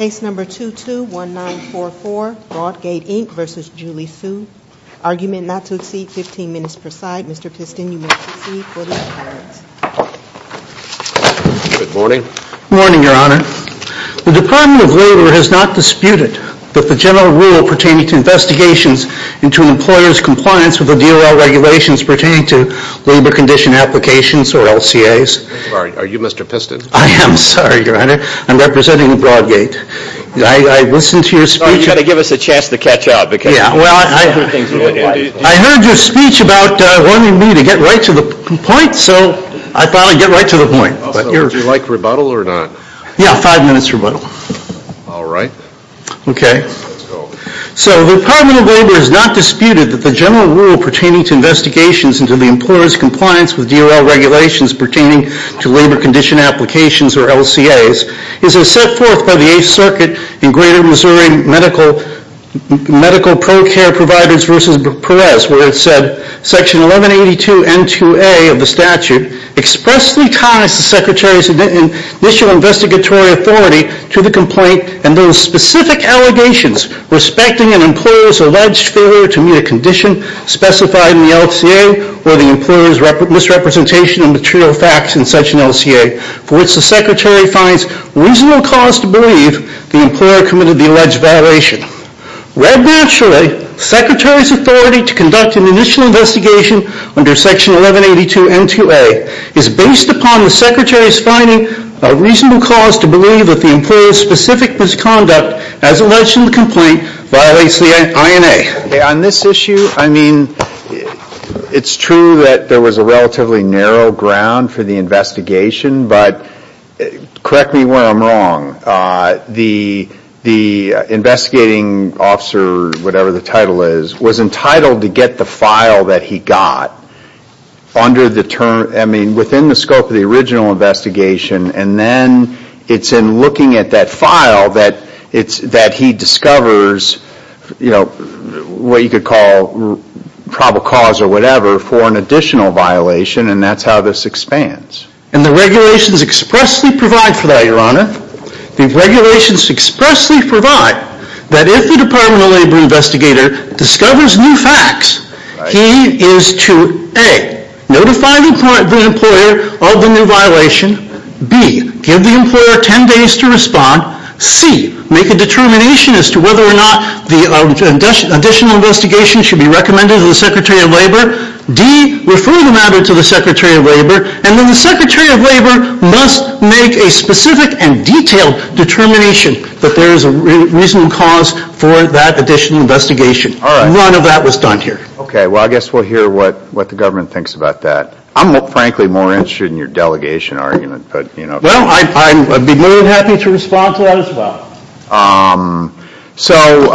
Argument not to exceed 15 minutes per side, Mr. Piston, you may proceed for the appearance. Good morning. Good morning, Your Honor. The Department of Labor has not disputed that the general rule pertaining to investigations into an employer's compliance with the DOL regulations pertaining to labor condition applications or LCAs. Are you Mr. Piston? I am, sorry, Your Honor. I'm representing the Broadgate Inc. I listened to your speech. You've got to give us a chance to catch up. I heard your speech about wanting me to get right to the point, so I thought I'd get right to the point. Would you like rebuttal or not? Yeah, five minutes rebuttal. All right. Okay. So the Department of Labor has not disputed that the general rule pertaining to investigations into the employer's compliance with DOL regulations pertaining to labor condition applications or LCAs is as set forth by the Eighth Circuit in Greater Missouri Medical Pro-Care Providers v. Perez where it said, Section 1182 N2A of the statute expressly ties the Secretary's initial investigatory authority to the complaint and those specific allegations respecting an employer's alleged failure to meet a condition specified in the LCA or the employer's misrepresentation of material facts in such an LCA for which the Secretary finds reasonable cause to believe the employer committed the alleged violation. Read naturally, the Secretary's authority to conduct an initial investigation under Section 1182 N2A is based upon the Secretary's finding a reasonable cause to believe that the employer's specific misconduct as alleged in the complaint violates the INA. Okay. On this issue, I mean, it's true that there was a relatively narrow ground for the investigation, but correct me where I'm wrong. The investigating officer, whatever the title is, was entitled to get the file that he got under the term, I mean, within the scope of the original investigation and then it's in looking at that file that he discovers, you know, what you could call probable cause or whatever for an additional violation, and that's how this expands. And the regulations expressly provide for that, Your Honor. The regulations expressly provide that if the Department of Labor investigator discovers new facts, he is to A, notify the employer of the new violation, B, give the employer 10 days to respond, C, make a determination as to whether or not the additional investigation should be recommended to the Secretary of Labor, D, refer the matter to the Secretary of Labor, and then the Secretary of Labor must make a specific and detailed determination that there is a reasonable cause for that additional investigation. All right. None of that was done here. Okay. Well, I guess we'll hear what the government thinks about that. I'm, frankly, more interested in your delegation argument, but, you know. Well, I'd be more than happy to respond to that as well. So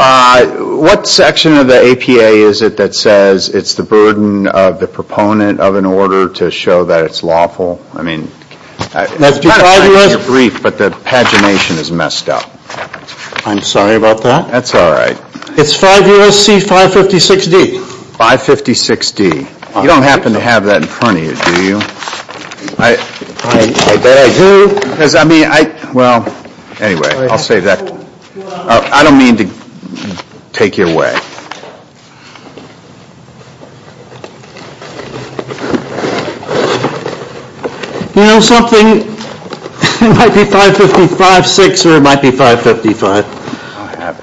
what section of the APA is it that says it's the burden of the proponent of an order to show that it's lawful? I mean, it's kind of like your brief, but the pagination is messed up. I'm sorry about that. That's all right. It's 5 U.S.C. 556D. 556D. You don't happen to have that in front of you, do you? I bet I do. Well, anyway, I'll save that. I don't mean to take your way. You know, something might be 555.6 or it might be 555. I don't have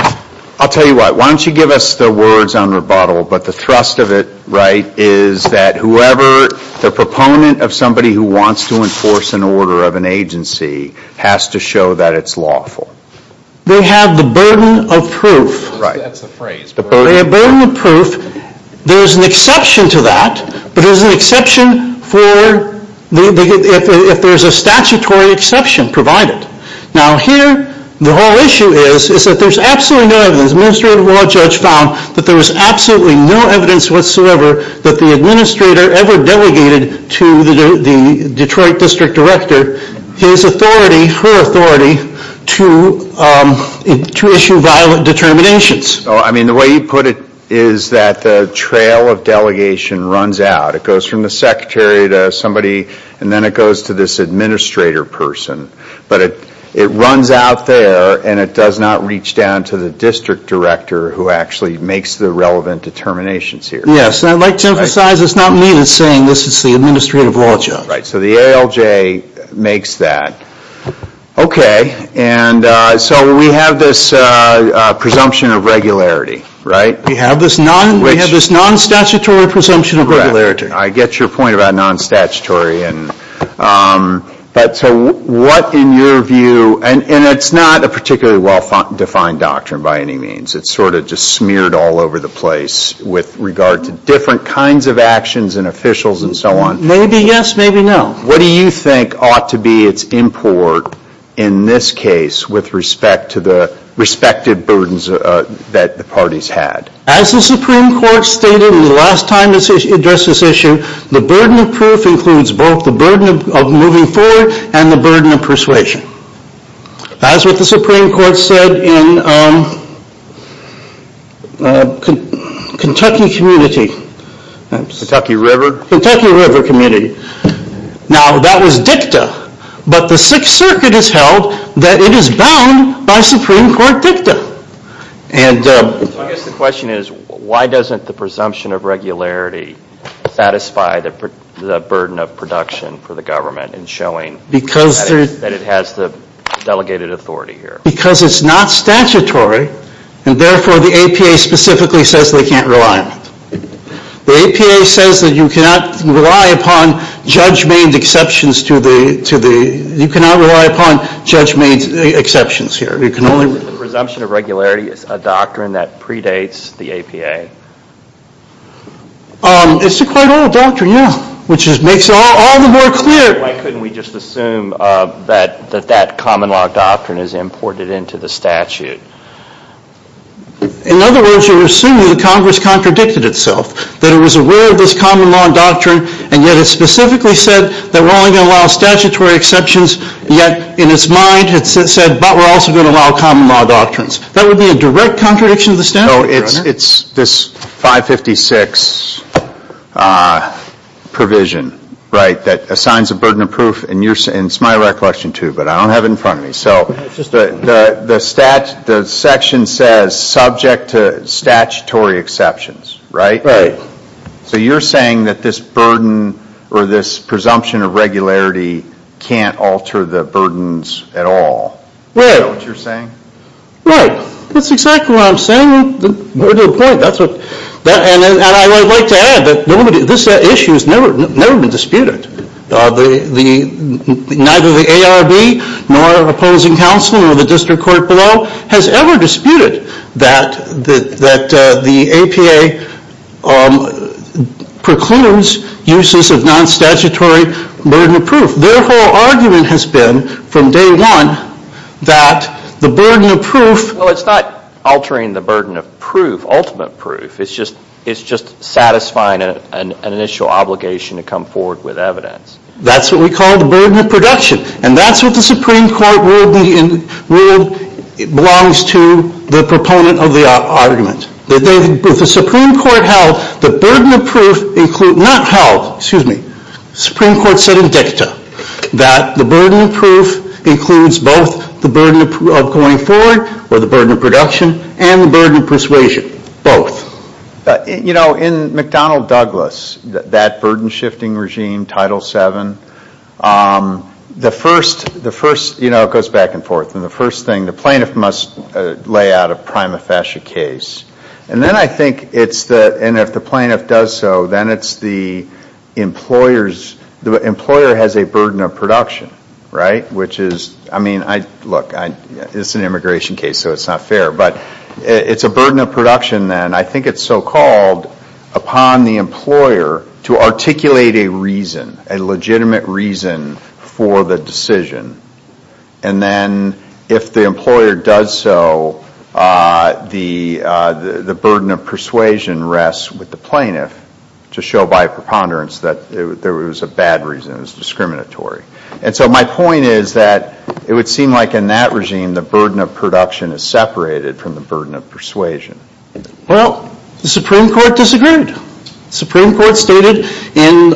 it here. I'll tell you what. Why don't you give us the words on rebuttal, but the thrust of it, right, is that whoever the proponent of somebody who wants to enforce an order of an agency has to show that it's lawful. They have the burden of proof. Right. That's the phrase. The burden of proof. There's an exception to that, but there's an exception for if there's a statutory exception provided. Now, here, the whole issue is that there's absolutely no evidence. Administrative law judge found that there was absolutely no evidence whatsoever that the administrator ever delegated to the Detroit district director his authority, her authority, to issue violent determinations. I mean, the way you put it is that the trail of delegation runs out. It goes from the secretary to somebody, and then it goes to this administrator person. But it runs out there, and it does not reach down to the district director who actually makes the relevant determinations here. Yes, and I'd like to emphasize it's not me that's saying this is the administrative law judge. Right, so the ALJ makes that. Okay. So we have this presumption of regularity, right? We have this non-statutory presumption of regularity. I get your point about non-statutory. So what, in your view, and it's not a particularly well-defined doctrine by any means. It's sort of just smeared all over the place with regard to different kinds of actions and officials and so on. Maybe yes, maybe no. What do you think ought to be its import in this case with respect to the respective burdens that the parties had? As the Supreme Court stated in the last time it addressed this issue, the burden of proof includes both the burden of moving forward and the burden of persuasion. As with the Supreme Court said in Kentucky community. Kentucky River? Kentucky River community. Now, that was dicta, but the Sixth Circuit has held that it is bound by Supreme Court dicta. I guess the question is why doesn't the presumption of regularity satisfy the burden of production for the government in showing that it has the delegated authority here? Because it's not statutory, and therefore the APA specifically says they can't rely on it. The APA says that you cannot rely upon judge-made exceptions to the, you cannot rely upon judge-made exceptions here. The presumption of regularity is a doctrine that predates the APA? It's a quite old doctrine, yeah, which makes it all the more clear. Why couldn't we just assume that that common law doctrine is imported into the statute? In other words, you're assuming that Congress contradicted itself, that it was aware of this common law doctrine, and yet it specifically said that we're only going to allow statutory exceptions, yet in its mind it said, but we're also going to allow common law doctrines. That would be a direct contradiction to the statute, Your Honor. So it's this 556 provision, right, that assigns a burden of proof, and it's my recollection, too, but I don't have it in front of me. So the section says subject to statutory exceptions, right? Right. So you're saying that this burden or this presumption of regularity can't alter the burdens at all? Right. Is that what you're saying? Right. That's exactly what I'm saying. You're to the point. And I would like to add that this issue has never been disputed. Neither the ARB nor opposing counsel or the district court below has ever disputed that the APA precludes uses of non-statutory burden of proof. Their whole argument has been from day one that the burden of proof. Well, it's not altering the burden of proof, ultimate proof. It's just satisfying an initial obligation to come forward with evidence. That's what we call the burden of production, and that's what the Supreme Court ruled belongs to the proponent of the argument. The Supreme Court said in dicta that the burden of proof includes both the burden of going forward or the burden of production and the burden of persuasion, both. You know, in McDonnell Douglas, that burden shifting regime, Title VII, the first, you know, it goes back and forth. And the first thing, the plaintiff must lay out a prima facie case. And then I think it's the, and if the plaintiff does so, then it's the employer's, the employer has a burden of production, right? Which is, I mean, look, this is an immigration case, so it's not fair. But it's a burden of production, and I think it's so-called upon the employer to articulate a reason, a legitimate reason for the decision. And then if the employer does so, the burden of persuasion rests with the plaintiff to show by preponderance that there was a bad reason, it was discriminatory. And so my point is that it would seem like in that regime, the burden of production is separated from the burden of persuasion. Well, the Supreme Court disagreed. The Supreme Court stated in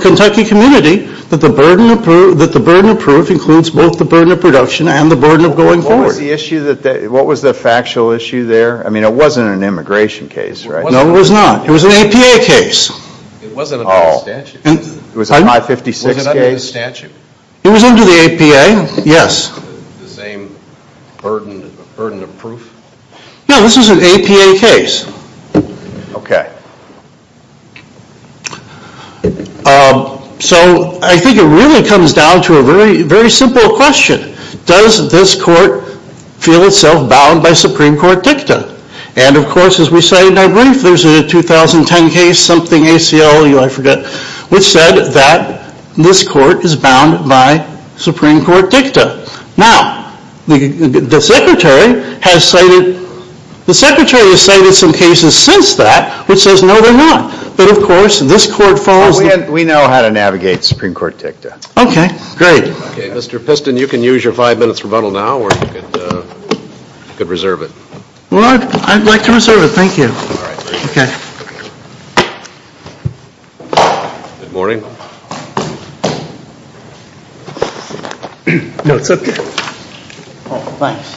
Kentucky Community that the burden of proof includes both the burden of production and the burden of going forward. What was the issue that, what was the factual issue there? I mean, it wasn't an immigration case, right? No, it was not. It was an APA case. It wasn't under the statute. It was a 556 case? Was it under the statute? It was under the APA, yes. The same burden of proof? No, this was an APA case. Okay. So I think it really comes down to a very simple question. Does this court feel itself bound by Supreme Court dicta? And, of course, as we say in our brief, there's a 2010 case, something ACLU, I forget, which said that this court is bound by Supreme Court dicta. Now, the Secretary has cited some cases since that which says no, they're not. But, of course, this court falls. We know how to navigate Supreme Court dicta. Okay, great. Okay, Mr. Piston, you can use your five minutes rebuttal now or you could reserve it. Well, I'd like to reserve it. Thank you. All right. Okay. Good morning. No, it's up here. Oh, thanks.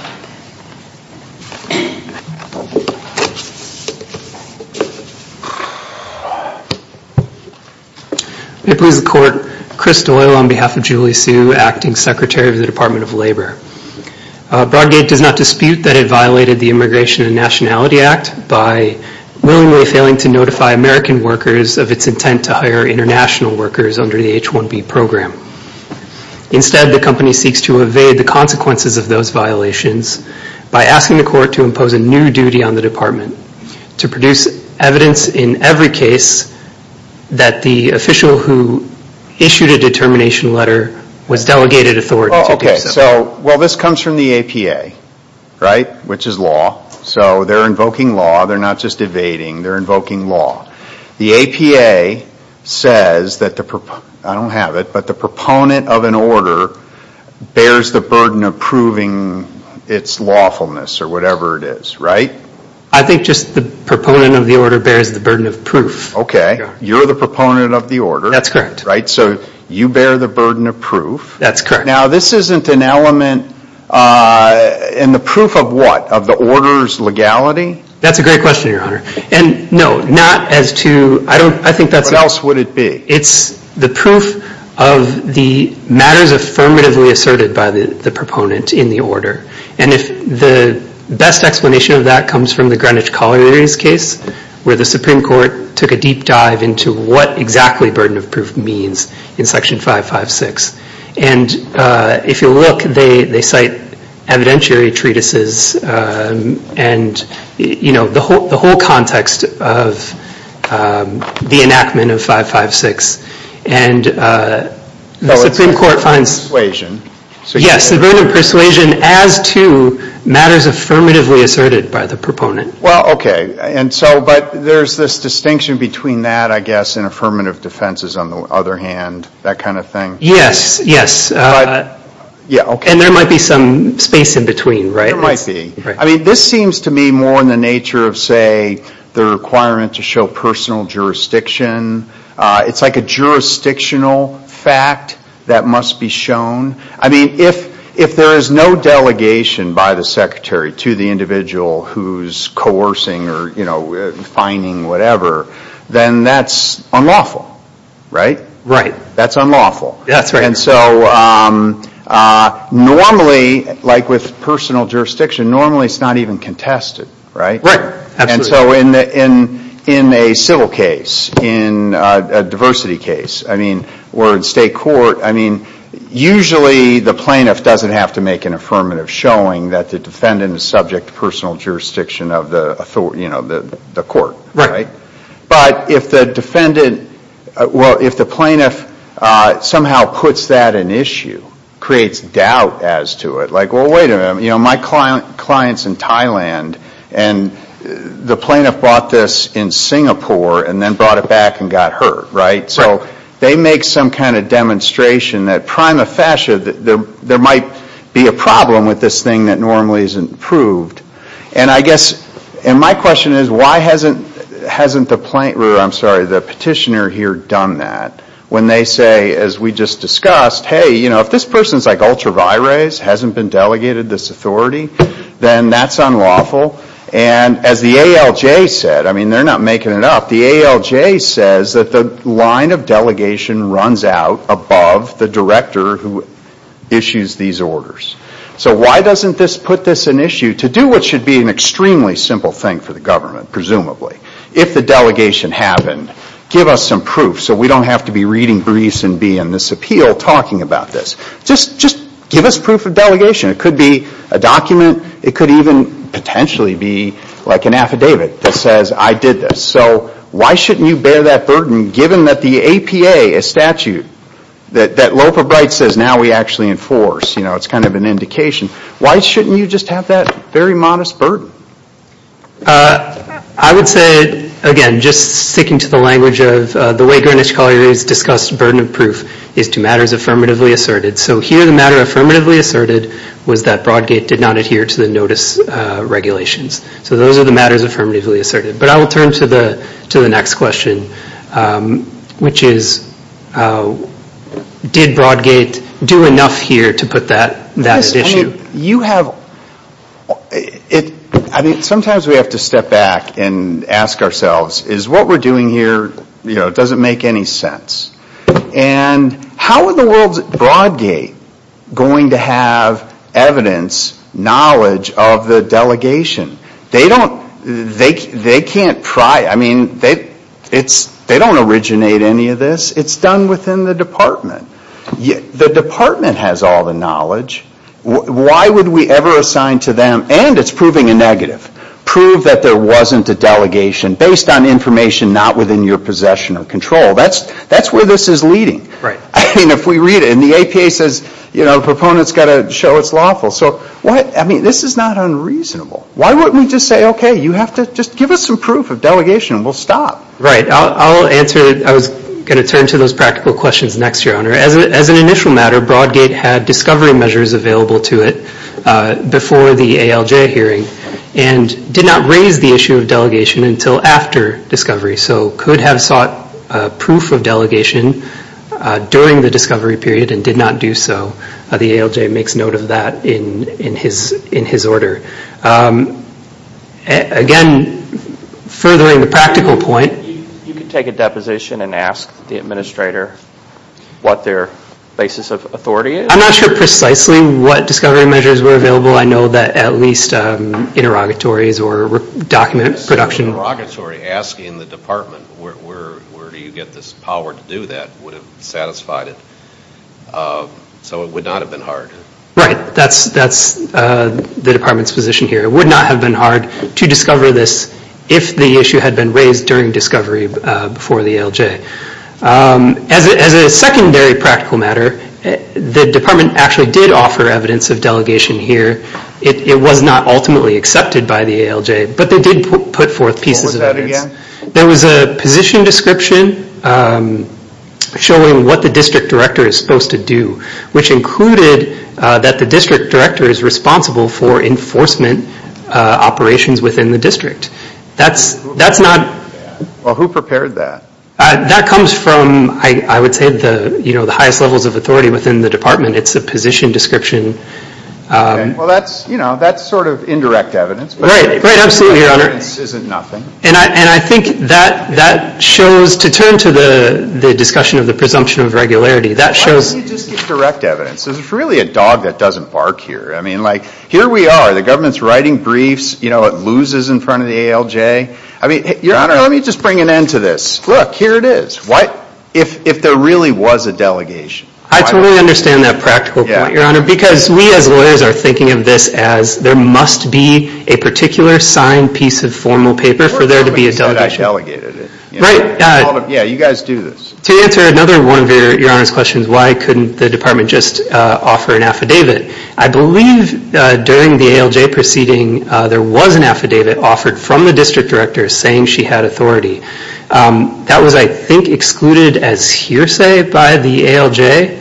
May it please the Court, Chris Doyle on behalf of Julie Hsu, Acting Secretary of the Department of Labor. Broadgate does not dispute that it violated the Immigration and Nationality Act by willingly failing to notify American workers of its intent to hire international workers. under the H-1B program. Instead, the company seeks to evade the consequences of those violations by asking the court to impose a new duty on the department to produce evidence in every case that the official who issued a determination letter was delegated authority to do so. Oh, okay. So, well, this comes from the APA, right, which is law. So they're invoking law. They're not just evading. They're invoking law. The APA says that the, I don't have it, but the proponent of an order bears the burden of proving its lawfulness or whatever it is, right? I think just the proponent of the order bears the burden of proof. Okay. You're the proponent of the order. That's correct. Right? So you bear the burden of proof. That's correct. Now, this isn't an element, and the proof of what? Of the order's legality? That's a great question, Your Honor. And, no, not as to, I don't, I think that's. What else would it be? It's the proof of the matters affirmatively asserted by the proponent in the order. And if the best explanation of that comes from the Greenwich Colliery's case, where the Supreme Court took a deep dive into what exactly burden of proof means in Section 556. And if you look, they cite evidentiary treatises and, you know, the whole context of the enactment of 556. And the Supreme Court finds. So it's persuasion. Yes, the burden of persuasion as to matters affirmatively asserted by the proponent. Well, okay. And so, but there's this distinction between that, I guess, and affirmative defenses, on the other hand, that kind of thing. Yes, yes. Yeah, okay. And there might be some space in between, right? There might be. Right. I mean, this seems to me more in the nature of, say, the requirement to show personal jurisdiction. It's like a jurisdictional fact that must be shown. I mean, if there is no delegation by the Secretary to the individual who's coercing or, you know, fining whatever, then that's unlawful, right? Right. That's unlawful. That's right. And so normally, like with personal jurisdiction, normally it's not even contested, right? Right. Absolutely. And so in a civil case, in a diversity case, I mean, or in state court, I mean, usually the plaintiff doesn't have to make an affirmative showing that the defendant is subject to personal jurisdiction of the court, right? But if the defendant, well, if the plaintiff somehow puts that in issue, creates doubt as to it, like, well, wait a minute. You know, my client's in Thailand, and the plaintiff bought this in Singapore and then brought it back and got hurt, right? Right. So they make some kind of demonstration that prima facie there might be a problem with this thing that normally isn't proved. And I guess, and my question is, why hasn't the plaintiff, I'm sorry, the petitioner here done that? When they say, as we just discussed, hey, you know, if this person's like ultra vires, hasn't been delegated this authority, then that's unlawful. And as the ALJ said, I mean, they're not making it up. The ALJ says that the line of delegation runs out above the director who issues these orders. So why doesn't this put this in issue? To do what should be an extremely simple thing for the government, presumably, if the delegation happened, give us some proof so we don't have to be reading Greece and be in this appeal talking about this. Just give us proof of delegation. It could be a document. It could even potentially be like an affidavit that says I did this. So why shouldn't you bear that burden given that the APA, a statute, that loaf of bread says now we actually enforce. You know, it's kind of an indication. Why shouldn't you just have that very modest burden? I would say, again, just sticking to the language of the way Greenwich Colliery has discussed burden of proof is to matters affirmatively asserted. So here the matter affirmatively asserted was that Broadgate did not adhere to the notice regulations. So those are the matters affirmatively asserted. But I will turn to the next question, which is did Broadgate do enough here to put that at issue? Sometimes we have to step back and ask ourselves is what we're doing here doesn't make any sense. And how are the world's Broadgate going to have evidence, knowledge of the delegation? They can't pry. I mean, they don't originate any of this. It's done within the department. The department has all the knowledge. Why would we ever assign to them, and it's proving a negative, prove that there wasn't a delegation based on information not within your possession or control? That's where this is leading. I mean, if we read it, and the APA says, you know, proponents got to show it's lawful. So what? I mean, this is not unreasonable. Why wouldn't we just say, okay, you have to just give us some proof of delegation and we'll stop? Right. I'll answer. I was going to turn to those practical questions next, Your Honor. As an initial matter, Broadgate had discovery measures available to it before the ALJ hearing and did not raise the issue of delegation until after discovery, so could have sought proof of delegation during the discovery period and did not do so. The ALJ makes note of that in his order. Again, furthering the practical point. You could take a deposition and ask the administrator what their basis of authority is. I'm not sure precisely what discovery measures were available. I know that at least interrogatories or document production. But interrogatory, asking the department, where do you get this power to do that, would have satisfied it. So it would not have been hard. Right. That's the department's position here. It would not have been hard to discover this if the issue had been raised during discovery before the ALJ. As a secondary practical matter, the department actually did offer evidence of delegation here. It was not ultimately accepted by the ALJ, but they did put forth pieces of evidence. There was a position description showing what the district director is supposed to do, which included that the district director is responsible for enforcement operations within the district. That's not- Well, who prepared that? That comes from, I would say, the highest levels of authority within the department. It's a position description. Okay. Well, that's sort of indirect evidence. Right. Absolutely, Your Honor. Evidence isn't nothing. And I think that shows, to turn to the discussion of the presumption of regularity, that shows- Why don't you just get direct evidence? There's really a dog that doesn't bark here. I mean, like, here we are. The government's writing briefs. It loses in front of the ALJ. I mean, Your Honor, let me just bring an end to this. Look, here it is. What if there really was a delegation? I totally understand that practical point, Your Honor, because we as lawyers are thinking of this as, there must be a particular signed piece of formal paper for there to be a delegation. Or somebody said I delegated it. Right. Yeah, you guys do this. To answer another one of Your Honor's questions, why couldn't the department just offer an affidavit, I believe during the ALJ proceeding there was an affidavit offered from the district director saying she had authority. That was, I think, excluded as hearsay by the ALJ,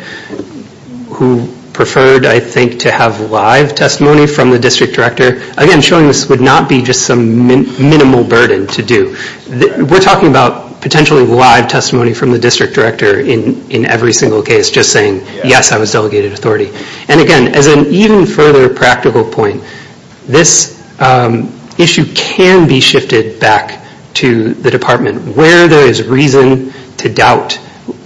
who preferred, I think, to have live testimony from the district director. Again, showing this would not be just some minimal burden to do. We're talking about potentially live testimony from the district director in every single case, just saying, yes, I was delegated authority. And, again, as an even further practical point, this issue can be shifted back to the department where there is reason to doubt,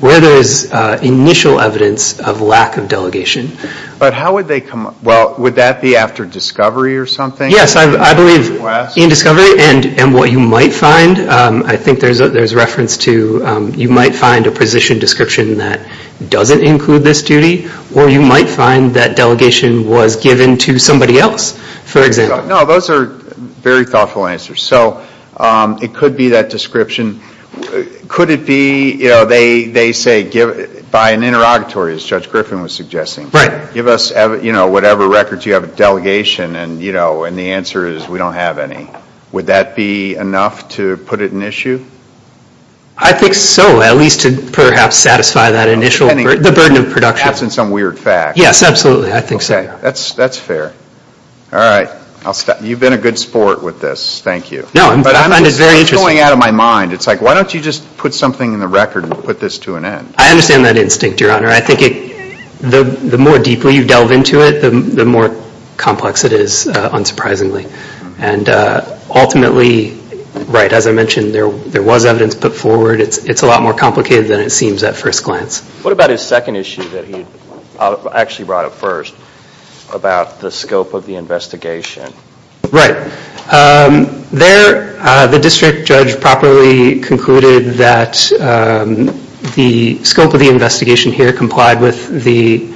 where there is initial evidence of lack of delegation. But how would they come up? Well, would that be after discovery or something? Yes, I believe in discovery and what you might find. I think there's reference to you might find a position description that doesn't include this duty or you might find that delegation was given to somebody else, for example. No, those are very thoughtful answers. So it could be that description. Could it be, you know, they say by an interrogatory, as Judge Griffin was suggesting. Right. Give us, you know, whatever records you have of delegation and, you know, and the answer is we don't have any. Would that be enough to put it in issue? I think so, at least to perhaps satisfy that initial, the burden of production. Perhaps in some weird fact. Yes, absolutely. I think so. Okay. That's fair. All right. You've been a good sport with this. Thank you. No, I find it very interesting. It's going out of my mind. It's like, why don't you just put something in the record and put this to an end? I understand that instinct, Your Honor. I think the more deeply you delve into it, the more complex it is, unsurprisingly. And ultimately, right, as I mentioned, there was evidence put forward. It's a lot more complicated than it seems at first glance. What about his second issue that he actually brought up first about the scope of the investigation? Right. There, the district judge properly concluded that the scope of the investigation here complied with the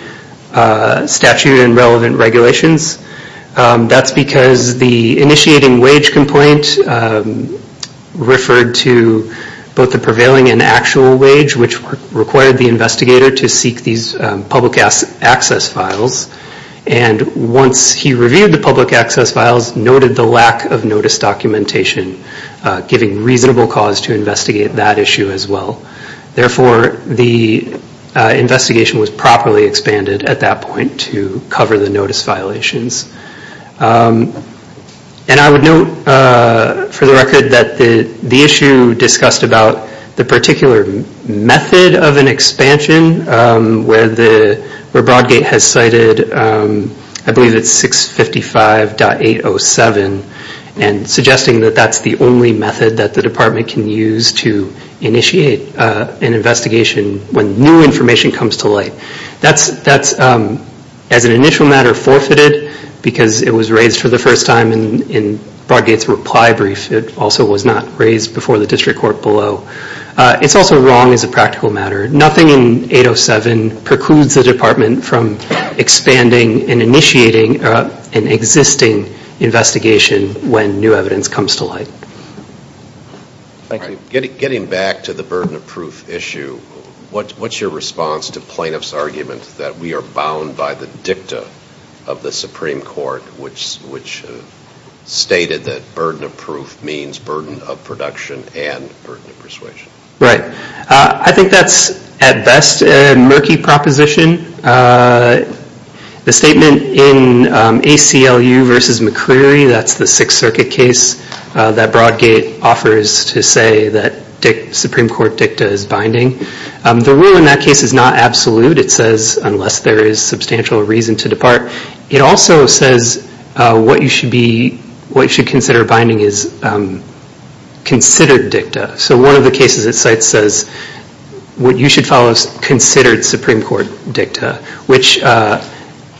statute and relevant regulations. That's because the initiating wage complaint referred to both the prevailing and actual wage, which required the investigator to seek these public access files. And once he reviewed the public access files, noted the lack of notice documentation, giving reasonable cause to investigate that issue as well. Therefore, the investigation was properly expanded at that point to cover the notice violations. And I would note for the record that the issue discussed about the particular method of an expansion, where Broadgate has cited, I believe it's 655.807, and suggesting that that's the only method that the department can use to initiate an investigation when new information comes to light. That's, as an initial matter, forfeited because it was raised for the first time in Broadgate's reply brief. It also was not raised before the district court below. It's also wrong as a practical matter. Nothing in 807 precludes the department from expanding and initiating an existing investigation when new evidence comes to light. Getting back to the burden of proof issue, what's your response to plaintiff's argument that we are bound by the dicta of the Supreme Court, which stated that burden of proof means burden of production and burden of persuasion? Right. I think that's, at best, a murky proposition. The statement in ACLU v. McCleary, that's the Sixth Circuit case that Broadgate offers to say that Supreme Court dicta is binding. The rule in that case is not absolute. It says unless there is substantial reason to depart. It also says what you should consider binding is considered dicta. So one of the cases it cites says what you should follow is considered Supreme Court dicta, which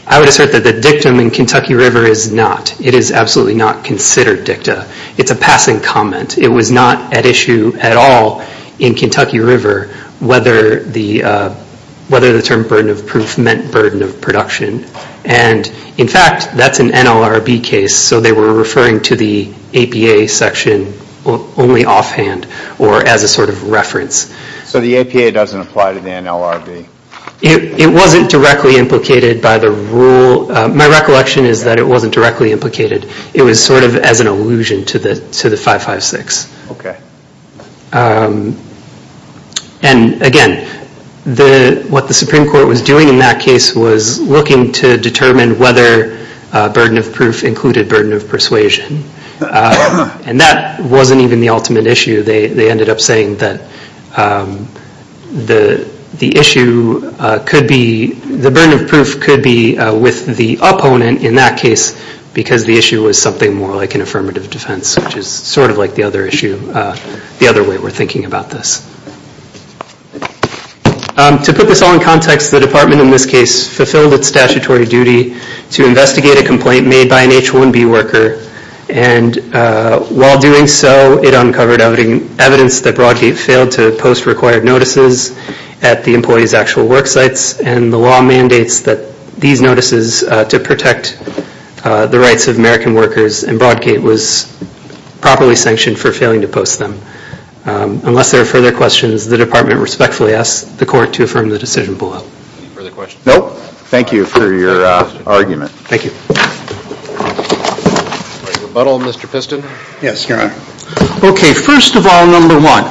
I would assert that the dictum in Kentucky River is not. It is absolutely not considered dicta. It's a passing comment. It was not at issue at all in Kentucky River whether the term burden of proof meant burden of production. In fact, that's an NLRB case, so they were referring to the APA section only offhand or as a sort of reference. So the APA doesn't apply to the NLRB? It wasn't directly implicated by the rule. My recollection is that it wasn't directly implicated. It was sort of as an allusion to the 556. Okay. And again, what the Supreme Court was doing in that case was looking to determine whether burden of proof included burden of persuasion. And that wasn't even the ultimate issue. They ended up saying that the issue could be, the burden of proof could be with the opponent in that case because the issue was something more like an affirmative defense, which is sort of like the other issue, the other way we're thinking about this. To put this all in context, the department in this case fulfilled its statutory duty to investigate a complaint made by an H-1B worker. And while doing so, it uncovered evidence that Broadgate failed to post required notices at the employees' actual work sites. And the law mandates that these notices to protect the rights of American workers in Broadgate was properly sanctioned for failing to post them. Unless there are further questions, the department respectfully asks the court to affirm the decision below. Any further questions? Nope. Thank you for your argument. Thank you. Rebuttal, Mr. Piston? Yes, Your Honor. Okay, first of all, number one,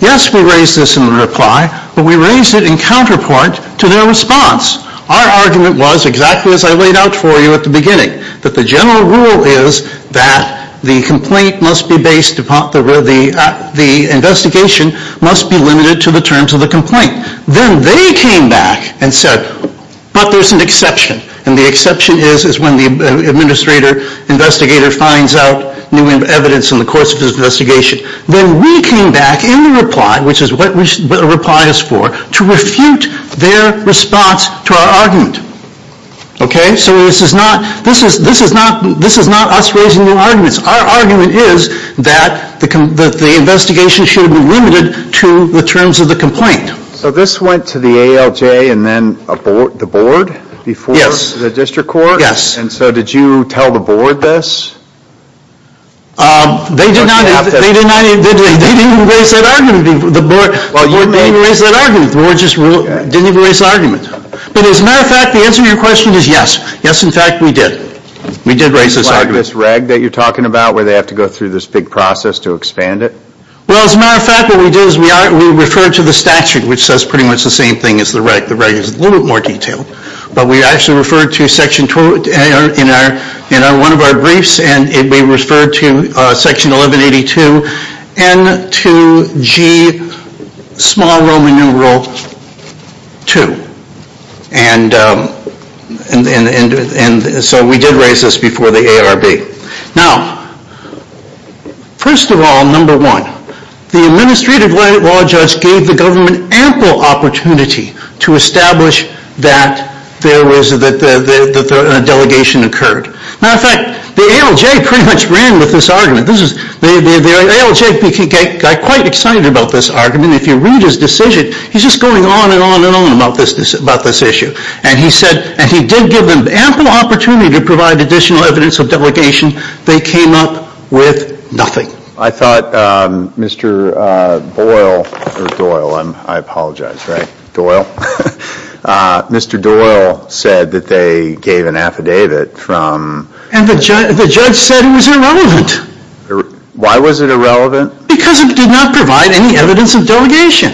yes, we raised this in reply, but we raised it in counterpart to their response. Our argument was exactly as I laid out for you at the beginning, that the general rule is that the complaint must be based upon, the investigation must be limited to the terms of the complaint. Then they came back and said, but there's an exception. And the exception is when the investigator finds out new evidence in the course of his investigation. Then we came back in reply, which is what a reply is for, to refute their response to our argument. Okay, so this is not us raising new arguments. Our argument is that the investigation should be limited to the terms of the complaint. So this went to the ALJ and then the board before the district court? Yes. And so did you tell the board this? They did not even raise that argument. The board just didn't even raise the argument. But as a matter of fact, the answer to your question is yes. Yes, in fact, we did. We did raise this argument. This reg that you're talking about where they have to go through this big process to expand it? Well, as a matter of fact, what we did is we referred to the statute, which says pretty much the same thing as the reg. The reg is a little bit more detailed. But we actually referred to Section 12 in one of our briefs, and we referred to Section 1182, N2G, small Roman numeral 2. And so we did raise this before the ARB. Now, first of all, number one, the administrative law judge gave the government ample opportunity to establish that a delegation occurred. Now, in fact, the ALJ pretty much ran with this argument. The ALJ got quite excited about this argument. If you read his decision, he's just going on and on and on about this issue. And he said, and he did give them ample opportunity to provide additional evidence of delegation. They came up with nothing. I thought Mr. Boyle, or Doyle, I apologize, right? Doyle? Mr. Doyle said that they gave an affidavit from... And the judge said it was irrelevant. Why was it irrelevant? Because it did not provide any evidence of delegation.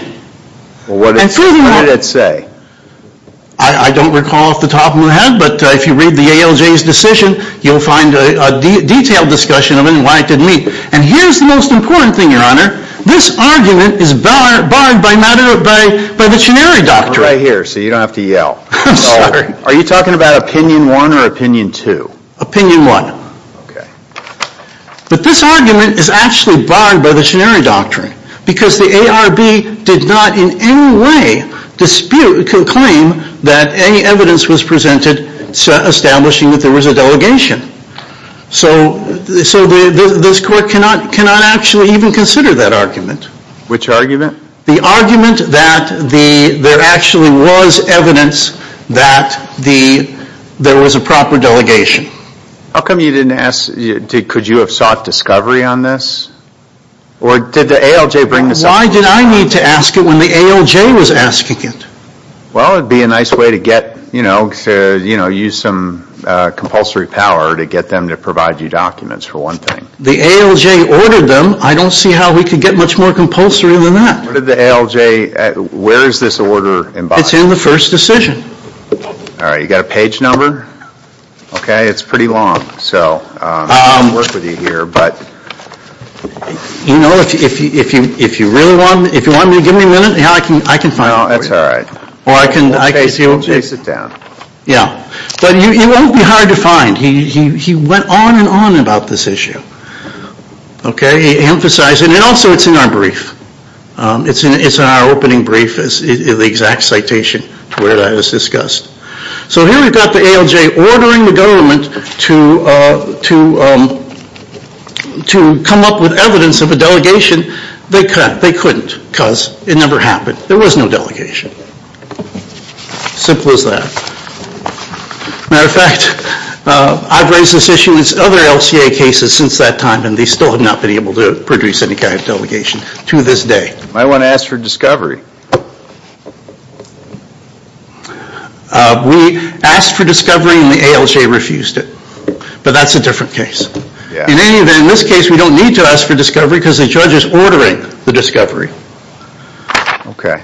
What did it say? I don't recall off the top of my head, but if you read the ALJ's decision, you'll find a detailed discussion of it and why it didn't meet. And here's the most important thing, Your Honor. This argument is barred by the Chenery Doctrine. I'm right here, so you don't have to yell. I'm sorry. Are you talking about Opinion 1 or Opinion 2? Opinion 1. Okay. But this argument is actually barred by the Chenery Doctrine because the ARB did not in any way claim that any evidence was presented establishing that there was a delegation. So this Court cannot actually even consider that argument. Which argument? The argument that there actually was evidence that there was a proper delegation. How come you didn't ask, could you have sought discovery on this? Or did the ALJ bring this up? Why did I need to ask it when the ALJ was asking it? Well, it would be a nice way to get, you know, use some compulsory power to get them to provide you documents, for one thing. The ALJ ordered them. I don't see how we could get much more compulsory than that. Where did the ALJ, where is this order embodied? It's in the first decision. All right. You got a page number? Okay. It's pretty long. So I'll work with you here. You know, if you really want, if you want to give me a minute, I can find it for you. No, that's all right. Or I can, I can see it. Okay, sit down. Yeah. But it won't be hard to find. He went on and on about this issue. Okay? He emphasized it. And also it's in our brief. It's in our opening brief, the exact citation where that is discussed. So here we've got the ALJ ordering the government to come up with evidence of a delegation. They couldn't because it never happened. There was no delegation. Simple as that. Matter of fact, I've raised this issue with other LCA cases since that time, and they still have not been able to produce any kind of delegation to this day. Might want to ask for discovery. We asked for discovery and the ALJ refused it. But that's a different case. In any event, in this case we don't need to ask for discovery because the judge is ordering the discovery. Okay.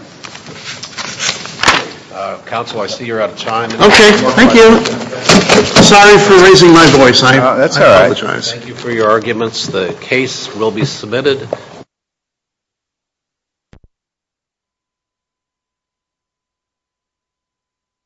Counsel, I see you're out of time. Okay, thank you. Sorry for raising my voice. That's all right. Thank you for your arguments. The case will be submitted. Thank you.